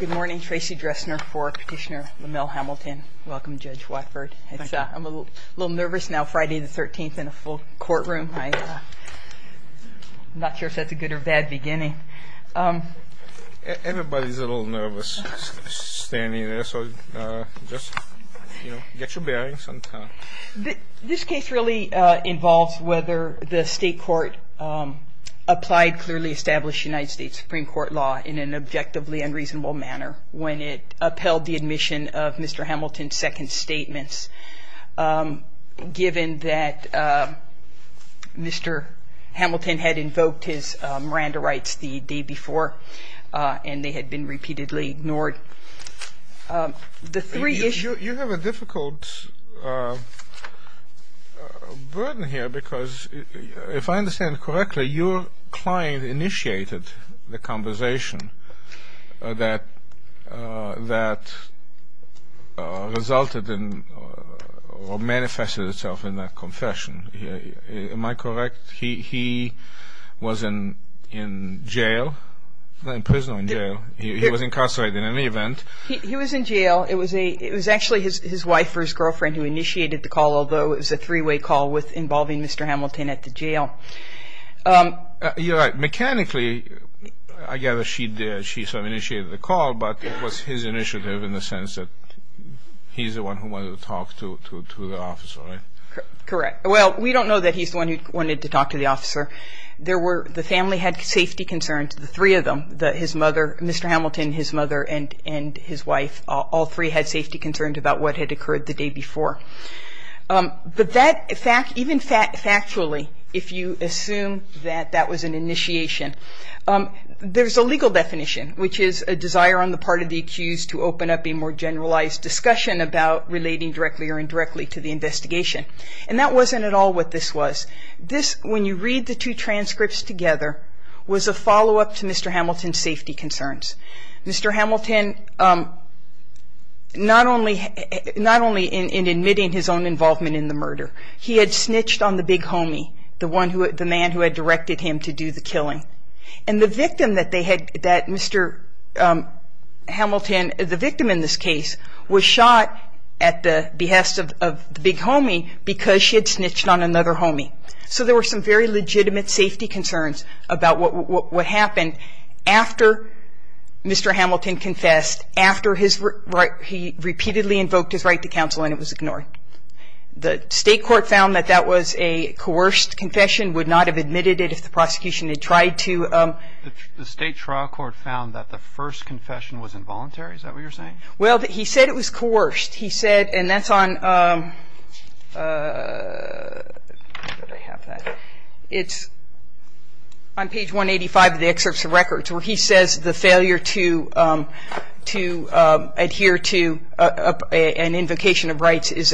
Good morning, Tracy Dressner for Petitioner Lomel Hamilton. Welcome, Judge Watford. I'm a little nervous now, Friday the 13th in a full courtroom. I'm not sure if that's a good or bad beginning. Everybody's a little nervous standing there, so just get your bearings on time. This case really involves whether the state court applied clearly established United States Supreme Court law in an objectively unreasonable manner when it upheld the admission of Mr. Hamilton's second statements, given that Mr. Hamilton had invoked his Miranda rights the day before and they had been repeatedly ignored. You have a difficult burden here because, if I understand correctly, your client initiated the conversation that resulted in or manifested itself in that confession. Am I correct? He was in jail, in prison or in jail. He was incarcerated in any event. He was in jail. It was actually his wife or his girlfriend who initiated the call, although it was a three-way call involving Mr. Hamilton at the jail. You're right. Mechanically, I gather she sort of initiated the call, but it was his initiative in the sense that he's the one who wanted to talk to the officer, right? Correct. Well, we don't know that he's the one who wanted to talk to the officer. The family had safety concerns, the three of them, Mr. Hamilton, his mother and his wife. All three had safety concerns about what had occurred the day before. But even factually, if you assume that that was an initiation, there's a legal definition, which is a desire on the part of the accused to open up a more generalized discussion about relating directly or indirectly to the investigation. And that wasn't at all what this was. When you read the two transcripts together, it was a follow-up to Mr. Hamilton's safety concerns. Mr. Hamilton, not only in admitting his own involvement in the murder, he had snitched on the big homie, the man who had directed him to do the killing. And the victim that they had, that Mr. Hamilton, the victim in this case, was shot at the behest of the big homie because she had snitched on another homie. So there were some very legitimate safety concerns about what happened after Mr. Hamilton confessed, after he repeatedly invoked his right to counsel and it was ignored. The state court found that that was a coerced confession, would not have admitted it if the prosecution had tried to. The state trial court found that the first confession was involuntary? Is that what you're saying? Well, he said it was coerced. He said, and that's on page 185 of the excerpts of records, where he says the failure to adhere to an invocation of rights is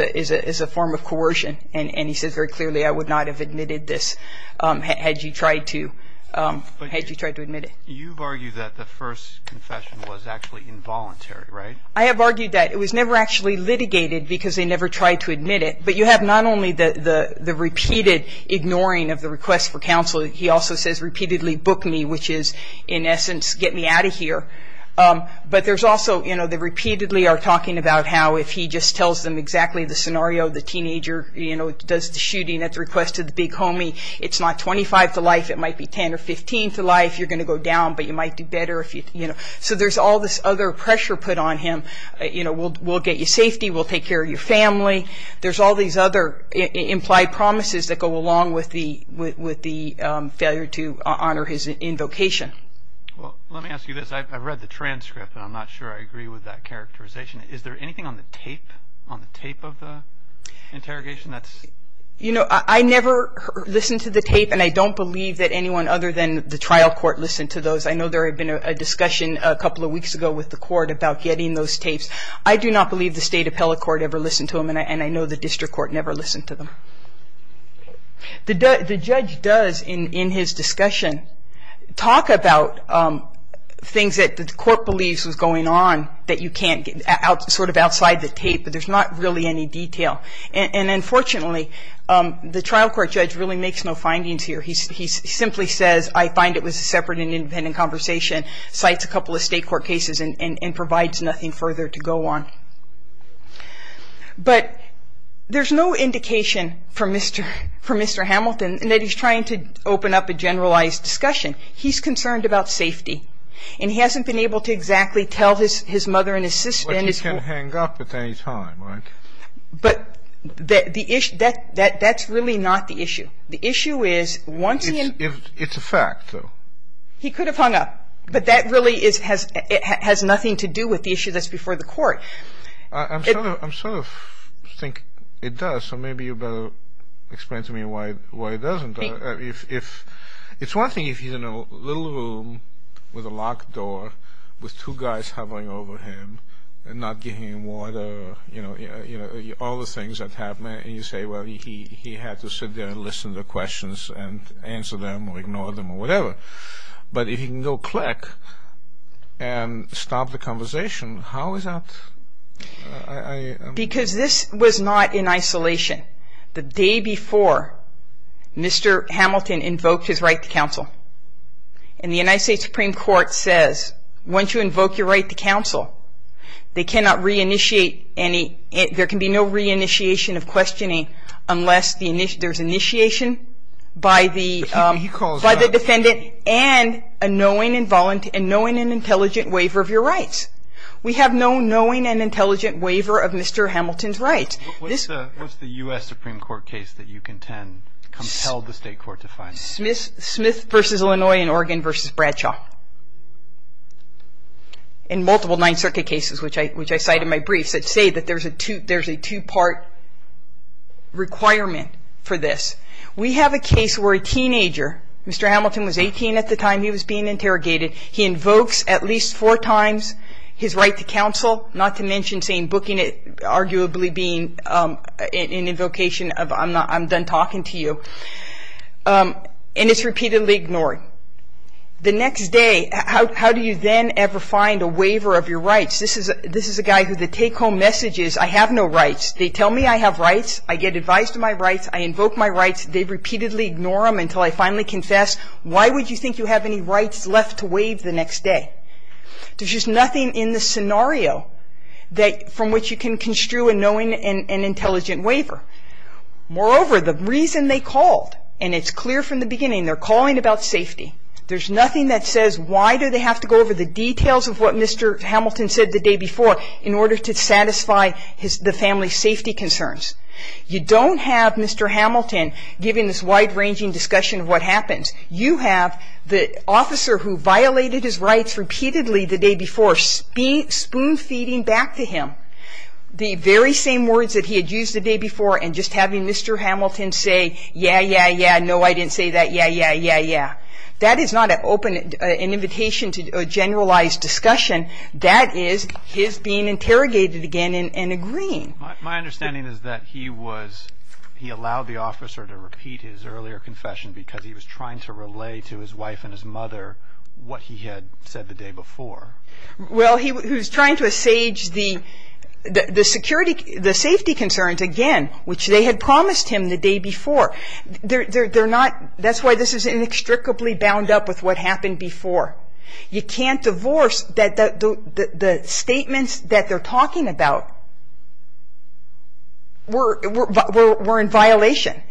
a form of coercion. And he says very clearly, I would not have admitted this had you tried to admit it. You've argued that the first confession was actually involuntary, right? I have argued that. It was never actually litigated because they never tried to admit it. But you have not only the repeated ignoring of the request for counsel, he also says repeatedly book me, which is, in essence, get me out of here. But there's also, you know, they repeatedly are talking about how if he just tells them exactly the scenario, the teenager does the shooting at the request of the big homie, it's not 25 to life. It might be 10 or 15 to life. You're going to go down, but you might do better. So there's all this other pressure put on him. We'll get you safety. We'll take care of your family. There's all these other implied promises that go along with the failure to honor his invocation. Well, let me ask you this. I read the transcript, and I'm not sure I agree with that characterization. Is there anything on the tape of the interrogation? You know, I never listened to the tape, and I don't believe that anyone other than the trial court listened to those. I know there had been a discussion a couple of weeks ago with the court about getting those tapes. I do not believe the state appellate court ever listened to them, and I know the district court never listened to them. The judge does, in his discussion, talk about things that the court believes was going on that you can't get sort of outside the tape, but there's not really any detail. And unfortunately, the trial court judge really makes no findings here. He simply says, I find it was a separate and independent conversation, cites a couple of state court cases, and provides nothing further to go on. But there's no indication from Mr. Hamilton that he's trying to open up a generalized discussion. He's concerned about safety, and he hasn't been able to exactly tell his mother and his sister. But you can't hang up at any time, right? But that's really not the issue. The issue is, once he and... It's a fact, though. He could have hung up, but that really has nothing to do with the issue that's before the court. I sort of think it does, so maybe you better explain to me why it doesn't. It's one thing if he's in a little room with a locked door, with two guys hovering over him, and not giving him water, you know, all the things that happen, and you say, well, he had to sit there and listen to questions and answer them or ignore them or whatever. But if he can go click and stop the conversation, how is that... Because this was not in isolation. The day before, Mr. Hamilton invoked his right to counsel. And the United States Supreme Court says, once you invoke your right to counsel, they cannot reinitiate any... There can be no reinitiation of questioning unless there's initiation by the... By the defendant and a knowing and intelligent waiver of your rights. We have no knowing and intelligent waiver of Mr. Hamilton's rights. What's the U.S. Supreme Court case that you contend compelled the state court to find? Smith v. Illinois and Oregon v. Bradshaw. In multiple Ninth Circuit cases, which I cite in my briefs, that say that there's a two-part requirement for this. We have a case where a teenager, Mr. Hamilton was 18 at the time he was being interrogated, he invokes at least four times his right to counsel, not to mention saying, booking it, arguably being an invocation of I'm done talking to you. And it's repeatedly ignored. The next day, how do you then ever find a waiver of your rights? This is a guy who the take-home message is, I have no rights. They tell me I have rights. I get advised of my rights. I invoke my rights. They repeatedly ignore them until I finally confess. Why would you think you have any rights left to waive the next day? There's just nothing in the scenario from which you can construe a knowing and intelligent waiver. Moreover, the reason they called, and it's clear from the beginning, they're calling about safety. There's nothing that says why do they have to go over the details of what Mr. Hamilton said the day before in order to satisfy the family's safety concerns. You don't have Mr. Hamilton giving this wide-ranging discussion of what happens. You have the officer who violated his rights repeatedly the day before spoon-feeding back to him the very same words that he had used the day before and just having Mr. Hamilton say, yeah, yeah, yeah, no, I didn't say that, yeah, yeah, yeah, yeah. That is not an open invitation to a generalized discussion. That is his being interrogated again and agreeing. My understanding is that he allowed the officer to repeat his earlier confession because he was trying to relay to his wife and his mother what he had said the day before. Well, he was trying to assuage the safety concerns again, which they had promised him the day before. That's why this is inextricably bound up with what happened before. You can't divorce the statements that they're talking about were in violation.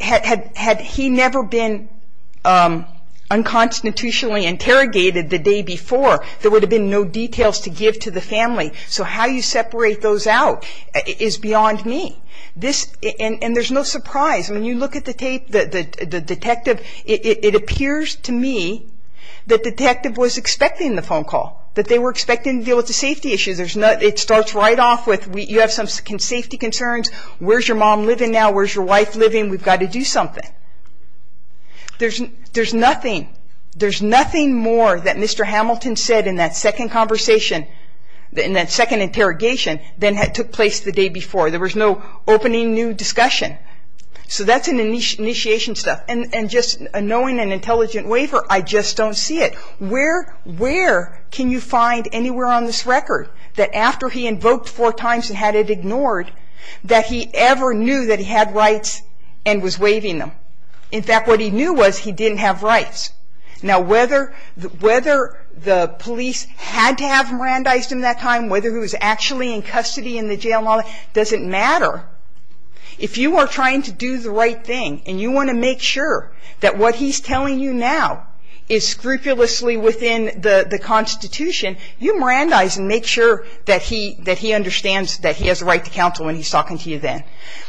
Had he never been unconstitutionally interrogated the day before, there would have been no details to give to the family. So how you separate those out is beyond me. And there's no surprise. When you look at the tape, the detective, it appears to me that the detective was expecting the phone call, that they were expecting to deal with the safety issues. It starts right off with you have some safety concerns, where's your mom living now, where's your wife living, we've got to do something. There's nothing more that Mr. Hamilton said in that second conversation, in that second interrogation, than had took place the day before. There was no opening new discussion. So that's an initiation step. And just knowing an intelligent waiver, I just don't see it. Where can you find anywhere on this record that after he invoked four times and had it ignored, that he ever knew that he had rights and was waiving them? In fact, what he knew was he didn't have rights. Now, whether the police had to have Mirandized him that time, whether he was actually in custody in the jail, it doesn't matter. If you are trying to do the right thing and you want to make sure that what he's telling you now is scrupulously within the Constitution, you Mirandize and make sure that he understands that he has a right to counsel when he's talking to you then.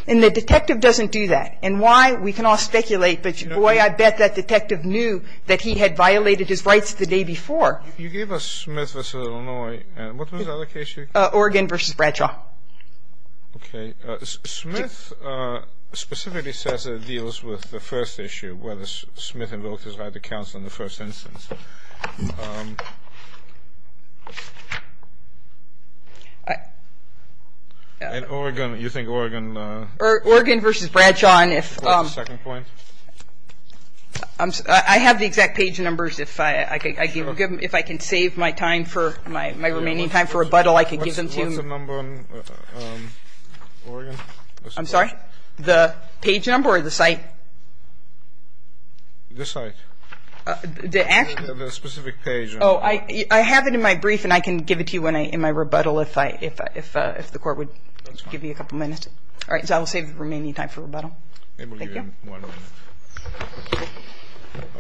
And the detective doesn't do that. And why? We can all speculate, but, boy, I bet that detective knew that he had violated his rights the day before. You gave us Smith v. Illinois. What was the other case you gave? Oregon v. Bradshaw. Okay. Smith specifically says that it deals with the first issue, whether Smith invoked his right to counsel in the first instance. In Oregon, you think Oregon? Oregon v. Bradshaw. What's the second point? I have the exact page numbers. If I can save my remaining time for rebuttal, I can give them to you. What's the number on Oregon? I'm sorry? The page number or the site? The site. The specific page. Oh, I have it in my brief, and I can give it to you in my rebuttal if the court would give you a couple minutes. All right, so I will save the remaining time for rebuttal. Thank you.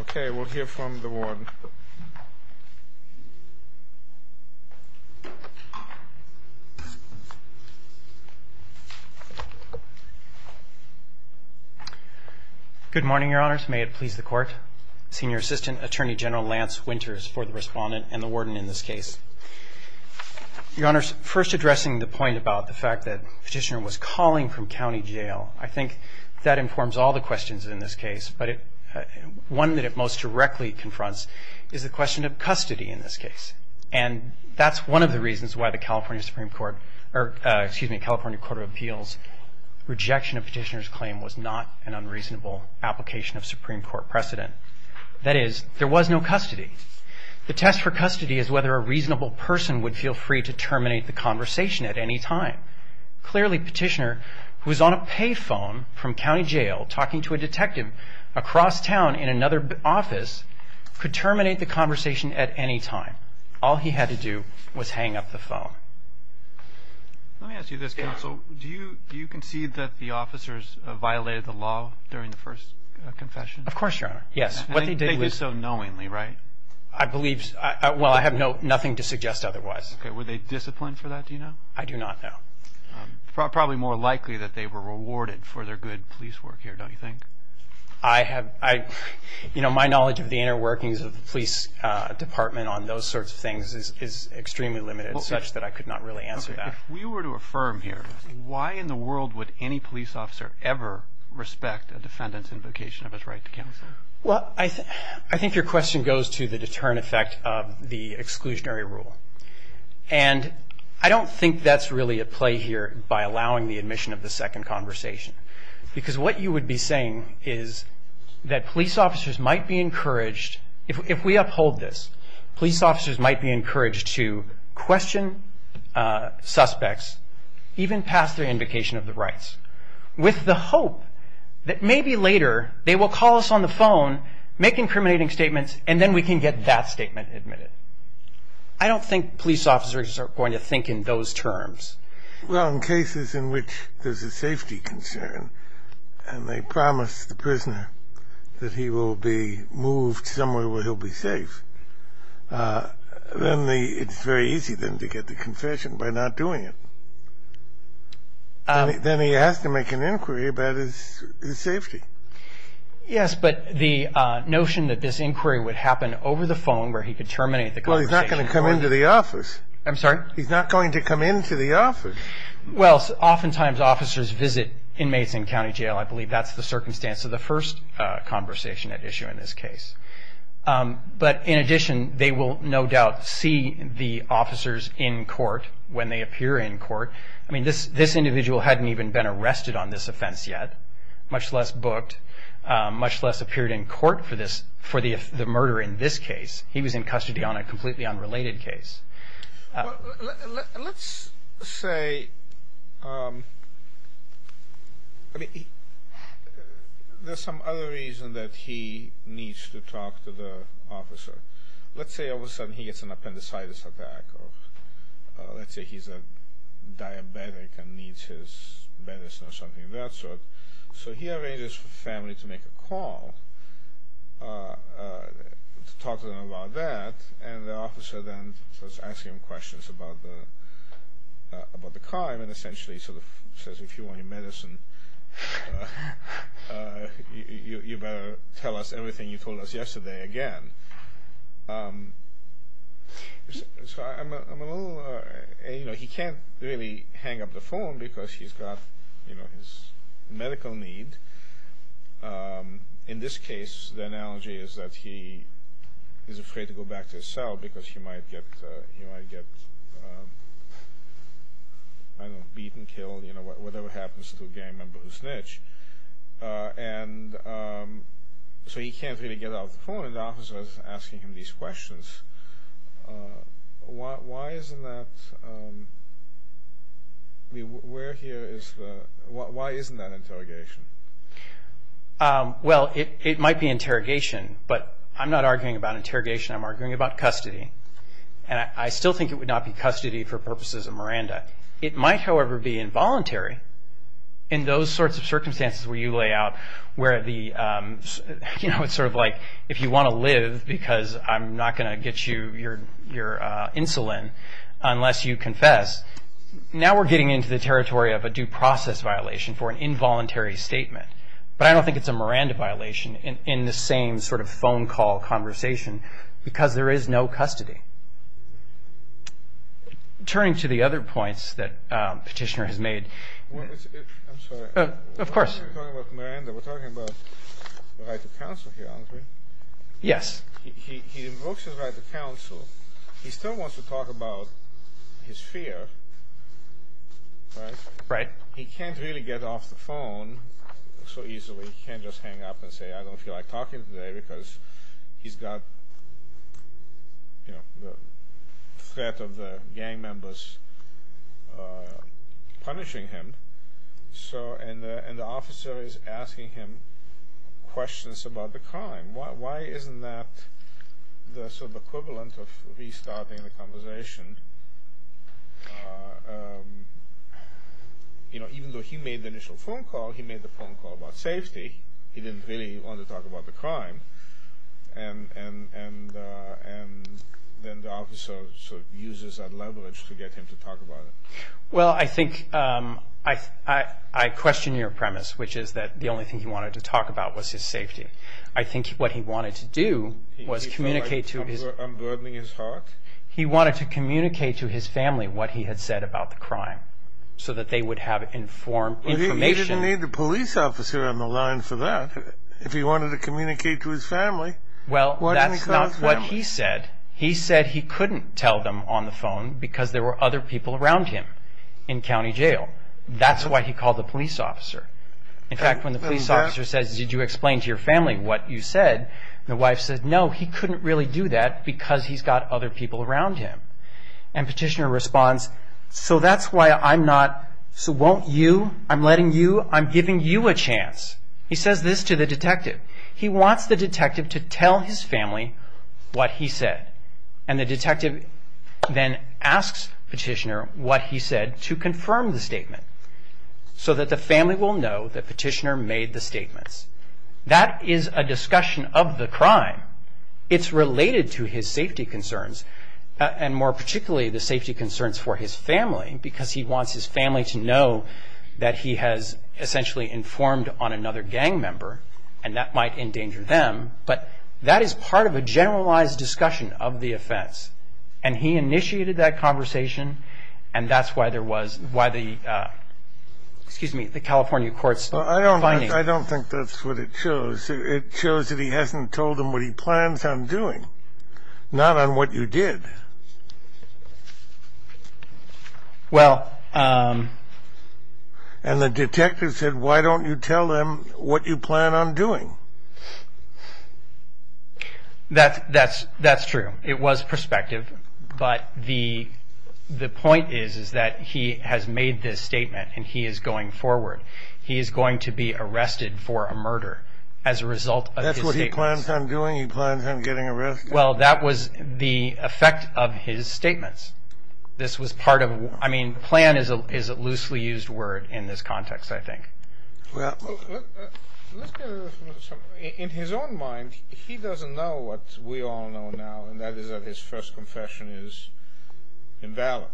Okay, we'll hear from the warden. Good morning, Your Honors. May it please the Court. Senior Assistant Attorney General Lance Winters for the Respondent and the Warden in this case. Your Honors, first addressing the point about the fact that Petitioner was calling from county jail, I think that informs all the questions in this case, but one that it most directly confronts is the question of custody in this case. And that's one of the reasons why the California Supreme Court or, excuse me, California Court of Appeals' rejection of Petitioner's claim was not an unreasonable application of Supreme Court precedent. That is, there was no custody. The test for custody is whether a reasonable person would feel free to terminate the conversation at any time. Clearly, Petitioner, who was on a pay phone from county jail talking to a detective across town in another office, could terminate the conversation at any time. All he had to do was hang up the phone. Let me ask you this, Counsel. Do you concede that the officers violated the law during the first confession? Of course, Your Honor. Yes. They did so knowingly, right? I believe so. Well, I have nothing to suggest otherwise. Okay, were they disciplined for that, do you know? I do not know. Probably more likely that they were rewarded for their good police work here, don't you think? You know, my knowledge of the inner workings of the police department on those sorts of things is extremely limited, such that I could not really answer that. If we were to affirm here, why in the world would any police officer ever respect a defendant's invocation of his right to counsel? Well, I think your question goes to the deterrent effect of the exclusionary rule. And I don't think that's really at play here by allowing the admission of the second conversation. Because what you would be saying is that police officers might be encouraged, if we uphold this, police officers might be encouraged to question suspects, even pass their invocation of the rights, with the hope that maybe later they will call us on the phone, make incriminating statements, and then we can get that statement admitted. I don't think police officers are going to think in those terms. Well, in cases in which there's a safety concern, and they promise the prisoner that he will be moved somewhere where he'll be safe, then it's very easy then to get the confession by not doing it. Then he has to make an inquiry about his safety. Yes, but the notion that this inquiry would happen over the phone where he could terminate the conversation. Well, he's not going to come into the office. I'm sorry? He's not going to come into the office. Well, oftentimes officers visit inmates in county jail. I believe that's the circumstance of the first conversation at issue in this case. But in addition, they will no doubt see the officers in court when they appear in court. I mean, this individual hadn't even been arrested on this offense yet, much less booked, much less appeared in court for the murder in this case. He was in custody on a completely unrelated case. Well, let's say, I mean, there's some other reason that he needs to talk to the officer. Let's say all of a sudden he gets an appendicitis attack. Let's say he's a diabetic and needs his medicine or something of that sort. So he arranges for the family to make a call to talk to them about that, and the officer then starts asking him questions about the crime and essentially sort of says, if you want your medicine, you better tell us everything you told us yesterday again. So I'm a little, you know, he can't really hang up the phone because he's got, you know, his medical need. In this case, the analogy is that he is afraid to go back to his cell because he might get, I don't know, beaten, killed, you know, whatever happens to a gang member who snitch. And so he can't really get off the phone, and the officer is asking him these questions. Why isn't that, I mean, where here is the, why isn't that interrogation? Well, it might be interrogation, but I'm not arguing about interrogation. I'm arguing about custody, and I still think it would not be custody for purposes of Miranda. It might, however, be involuntary in those sorts of circumstances where you lay out where the, you know, it's sort of like if you want to live because I'm not going to get you your insulin unless you confess, now we're getting into the territory of a due process violation for an involuntary statement. But I don't think it's a Miranda violation in the same sort of phone call conversation because there is no custody. Turning to the other points that Petitioner has made. I'm sorry. Of course. We're talking about Miranda. We're talking about the right to counsel here, aren't we? Yes. He invokes his right to counsel. He still wants to talk about his fear, right? Right. He can't really get off the phone so easily. He can't just hang up and say, I don't feel like talking today because he's got, you know, the threat of the gang members punishing him. And the officer is asking him questions about the crime. Why isn't that the sort of equivalent of restarting the conversation? You know, even though he made the initial phone call, he made the phone call about safety. He didn't really want to talk about the crime. And then the officer sort of uses that leverage to get him to talk about it. Well, I think I question your premise, which is that the only thing he wanted to talk about was his safety. I think what he wanted to do was communicate to his family what he had said about the crime so that they would have informed information. He didn't need the police officer on the line for that. If he wanted to communicate to his family, why didn't he call his family? Well, that's not what he said. He said he couldn't tell them on the phone because there were other people around him in county jail. That's why he called the police officer. In fact, when the police officer says, did you explain to your family what you said, the wife says, no, he couldn't really do that because he's got other people around him. And petitioner responds, so that's why I'm not, so won't you, I'm letting you, I'm giving you a chance. He says this to the detective. He wants the detective to tell his family what he said. And the detective then asks petitioner what he said to confirm the statement so that the family will know that petitioner made the statements. That is a discussion of the crime. It's related to his safety concerns, and more particularly the safety concerns for his family because he wants his family to know that he has essentially informed on another gang member and that might endanger them, but that is part of a generalized discussion of the offense. And he initiated that conversation, and that's why there was, why the, excuse me, the California courts. I don't think that's what it shows. It shows that he hasn't told them what he plans on doing, not on what you did. And the detective said, why don't you tell them what you plan on doing? That's true. It was perspective, but the point is that he has made this statement, and he is going forward. He is going to be arrested for a murder as a result of his statements. That's what he plans on doing? He plans on getting arrested? Well, that was the effect of his statements. This was part of, I mean, plan is a loosely used word in this context, I think. In his own mind, he doesn't know what we all know now, and that is that his first confession is invalid.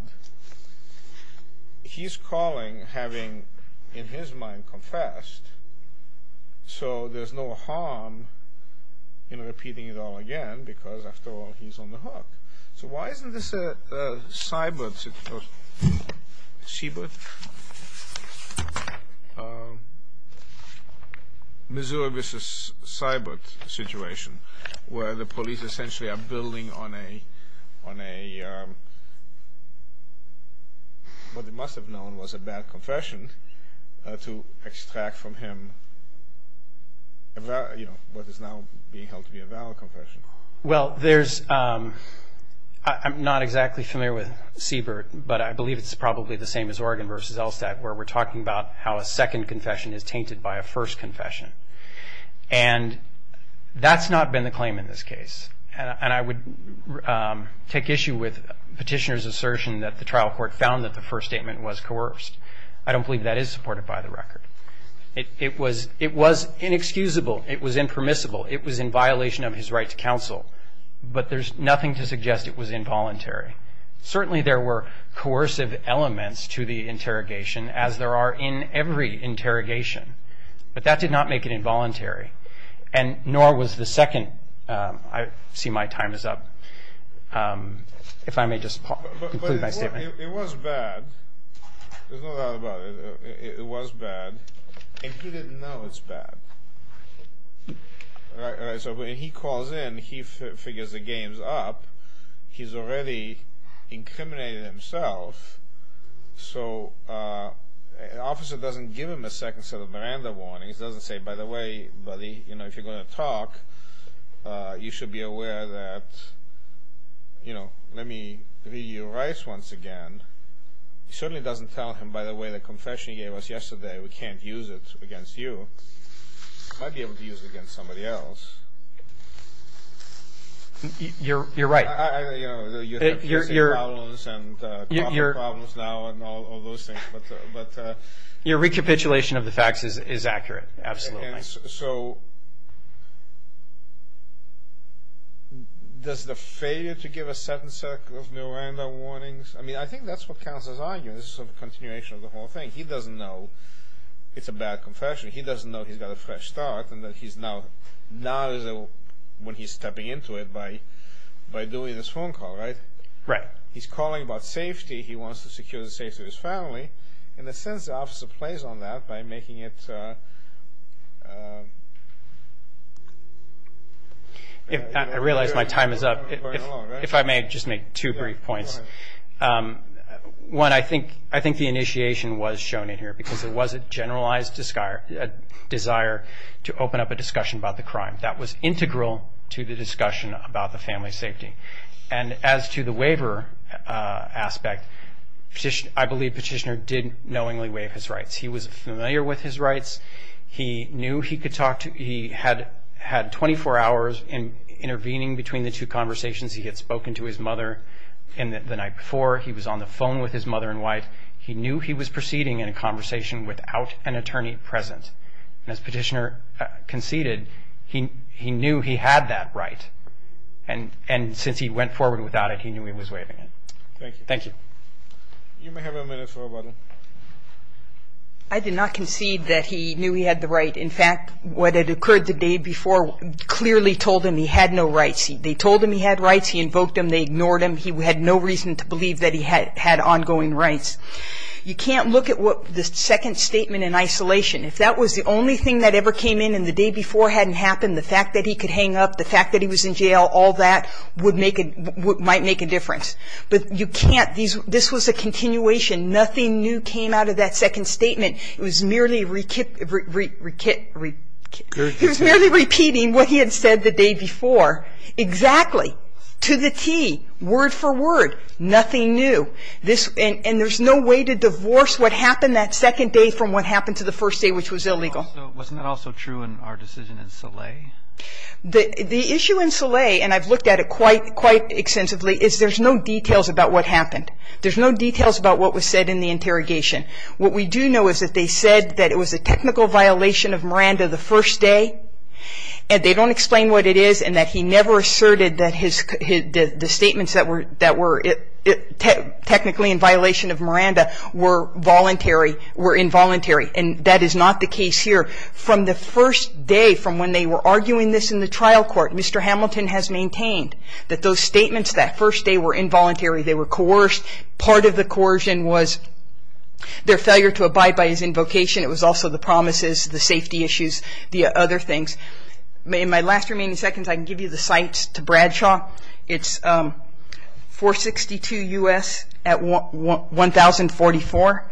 He's calling having, in his mind, confessed, so there's no harm in repeating it all again, because after all, he's on the hook. So why isn't this a cyber situation, where the police essentially are building on a, what they must have known was a bad confession, to extract from him what is now being held to be a valid confession? Well, there's, I'm not exactly familiar with Siebert, but I believe it's probably the same as Oregon v. Elstad, where we're talking about how a second confession is tainted by a first confession. And that's not been the claim in this case. And I would take issue with Petitioner's assertion that the trial court found that the first statement was coerced. I don't believe that is supported by the record. It was inexcusable. It was impermissible. It was in violation of his right to counsel. But there's nothing to suggest it was involuntary. Certainly there were coercive elements to the interrogation, as there are in every interrogation. But that did not make it involuntary, and nor was the second. I see my time is up. If I may just conclude my statement. It was bad. There's no doubt about it. It was bad. And he didn't know it's bad. So when he calls in, he figures the game's up. He's already incriminated himself. So an officer doesn't give him a second set of Miranda warnings, doesn't say, And by the way, buddy, if you're going to talk, you should be aware that, you know, let me read you your rights once again. He certainly doesn't tell him, by the way, the confession he gave us yesterday, we can't use it against you. We might be able to use it against somebody else. You're right. You know, you have your problems now and all those things. Your recapitulation of the facts is accurate. Absolutely. So does the failure to give a second set of Miranda warnings, I mean, I think that's what Counselor's arguing. This is sort of a continuation of the whole thing. He doesn't know it's a bad confession. He doesn't know he's got a fresh start and that he's now, now is when he's stepping into it by doing this phone call, right? Right. He's calling about safety. He wants to secure the safety of his family. In a sense, the officer plays on that by making it. I realize my time is up. If I may just make two brief points. One, I think the initiation was shown in here because there was a generalized desire to open up a discussion about the crime. That was integral to the discussion about the family's safety. And as to the waiver aspect, I believe Petitioner did knowingly waive his rights. He was familiar with his rights. He knew he could talk to, he had 24 hours intervening between the two conversations. He had spoken to his mother the night before. He was on the phone with his mother and wife. He knew he was proceeding in a conversation without an attorney present. And as Petitioner conceded, he knew he had that right. And since he went forward without it, he knew he was waiving it. Thank you. Thank you. You may have a minute for a button. I did not concede that he knew he had the right. In fact, what had occurred the day before clearly told him he had no rights. They told him he had rights. He invoked them. They ignored him. He had no reason to believe that he had ongoing rights. You can't look at the second statement in isolation. If that was the only thing that ever came in and the day before hadn't happened, the fact that he could hang up, the fact that he was in jail, all that might make a difference. But you can't. This was a continuation. Nothing new came out of that second statement. It was merely repeating what he had said the day before. Exactly. To the T. Word for word. Nothing new. And there's no way to divorce what happened that second day from what happened to the first day, which was illegal. Wasn't that also true in our decision in Soleil? The issue in Soleil, and I've looked at it quite extensively, is there's no details about what happened. There's no details about what was said in the interrogation. What we do know is that they said that it was a technical violation of Miranda the first day, and they don't explain what it is and that he never asserted that the statements that were technically in violation of Miranda were involuntary. And that is not the case here. From the first day, from when they were arguing this in the trial court, Mr. Hamilton has maintained that those statements that first day were involuntary. They were coerced. Part of the coercion was their failure to abide by his invocation. It was also the promises, the safety issues, the other things. In my last remaining seconds, I can give you the sites to Bradshaw. It's 462 U.S. at 1044.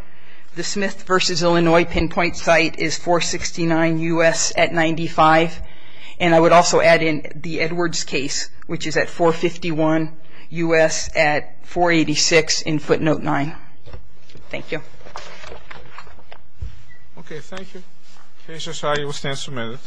The Smith v. Illinois pinpoint site is 469 U.S. at 95. And I would also add in the Edwards case, which is at 451 U.S. at 486 in footnote 9. Thank you. Okay, thank you. The case is signed. You will stand for a minute.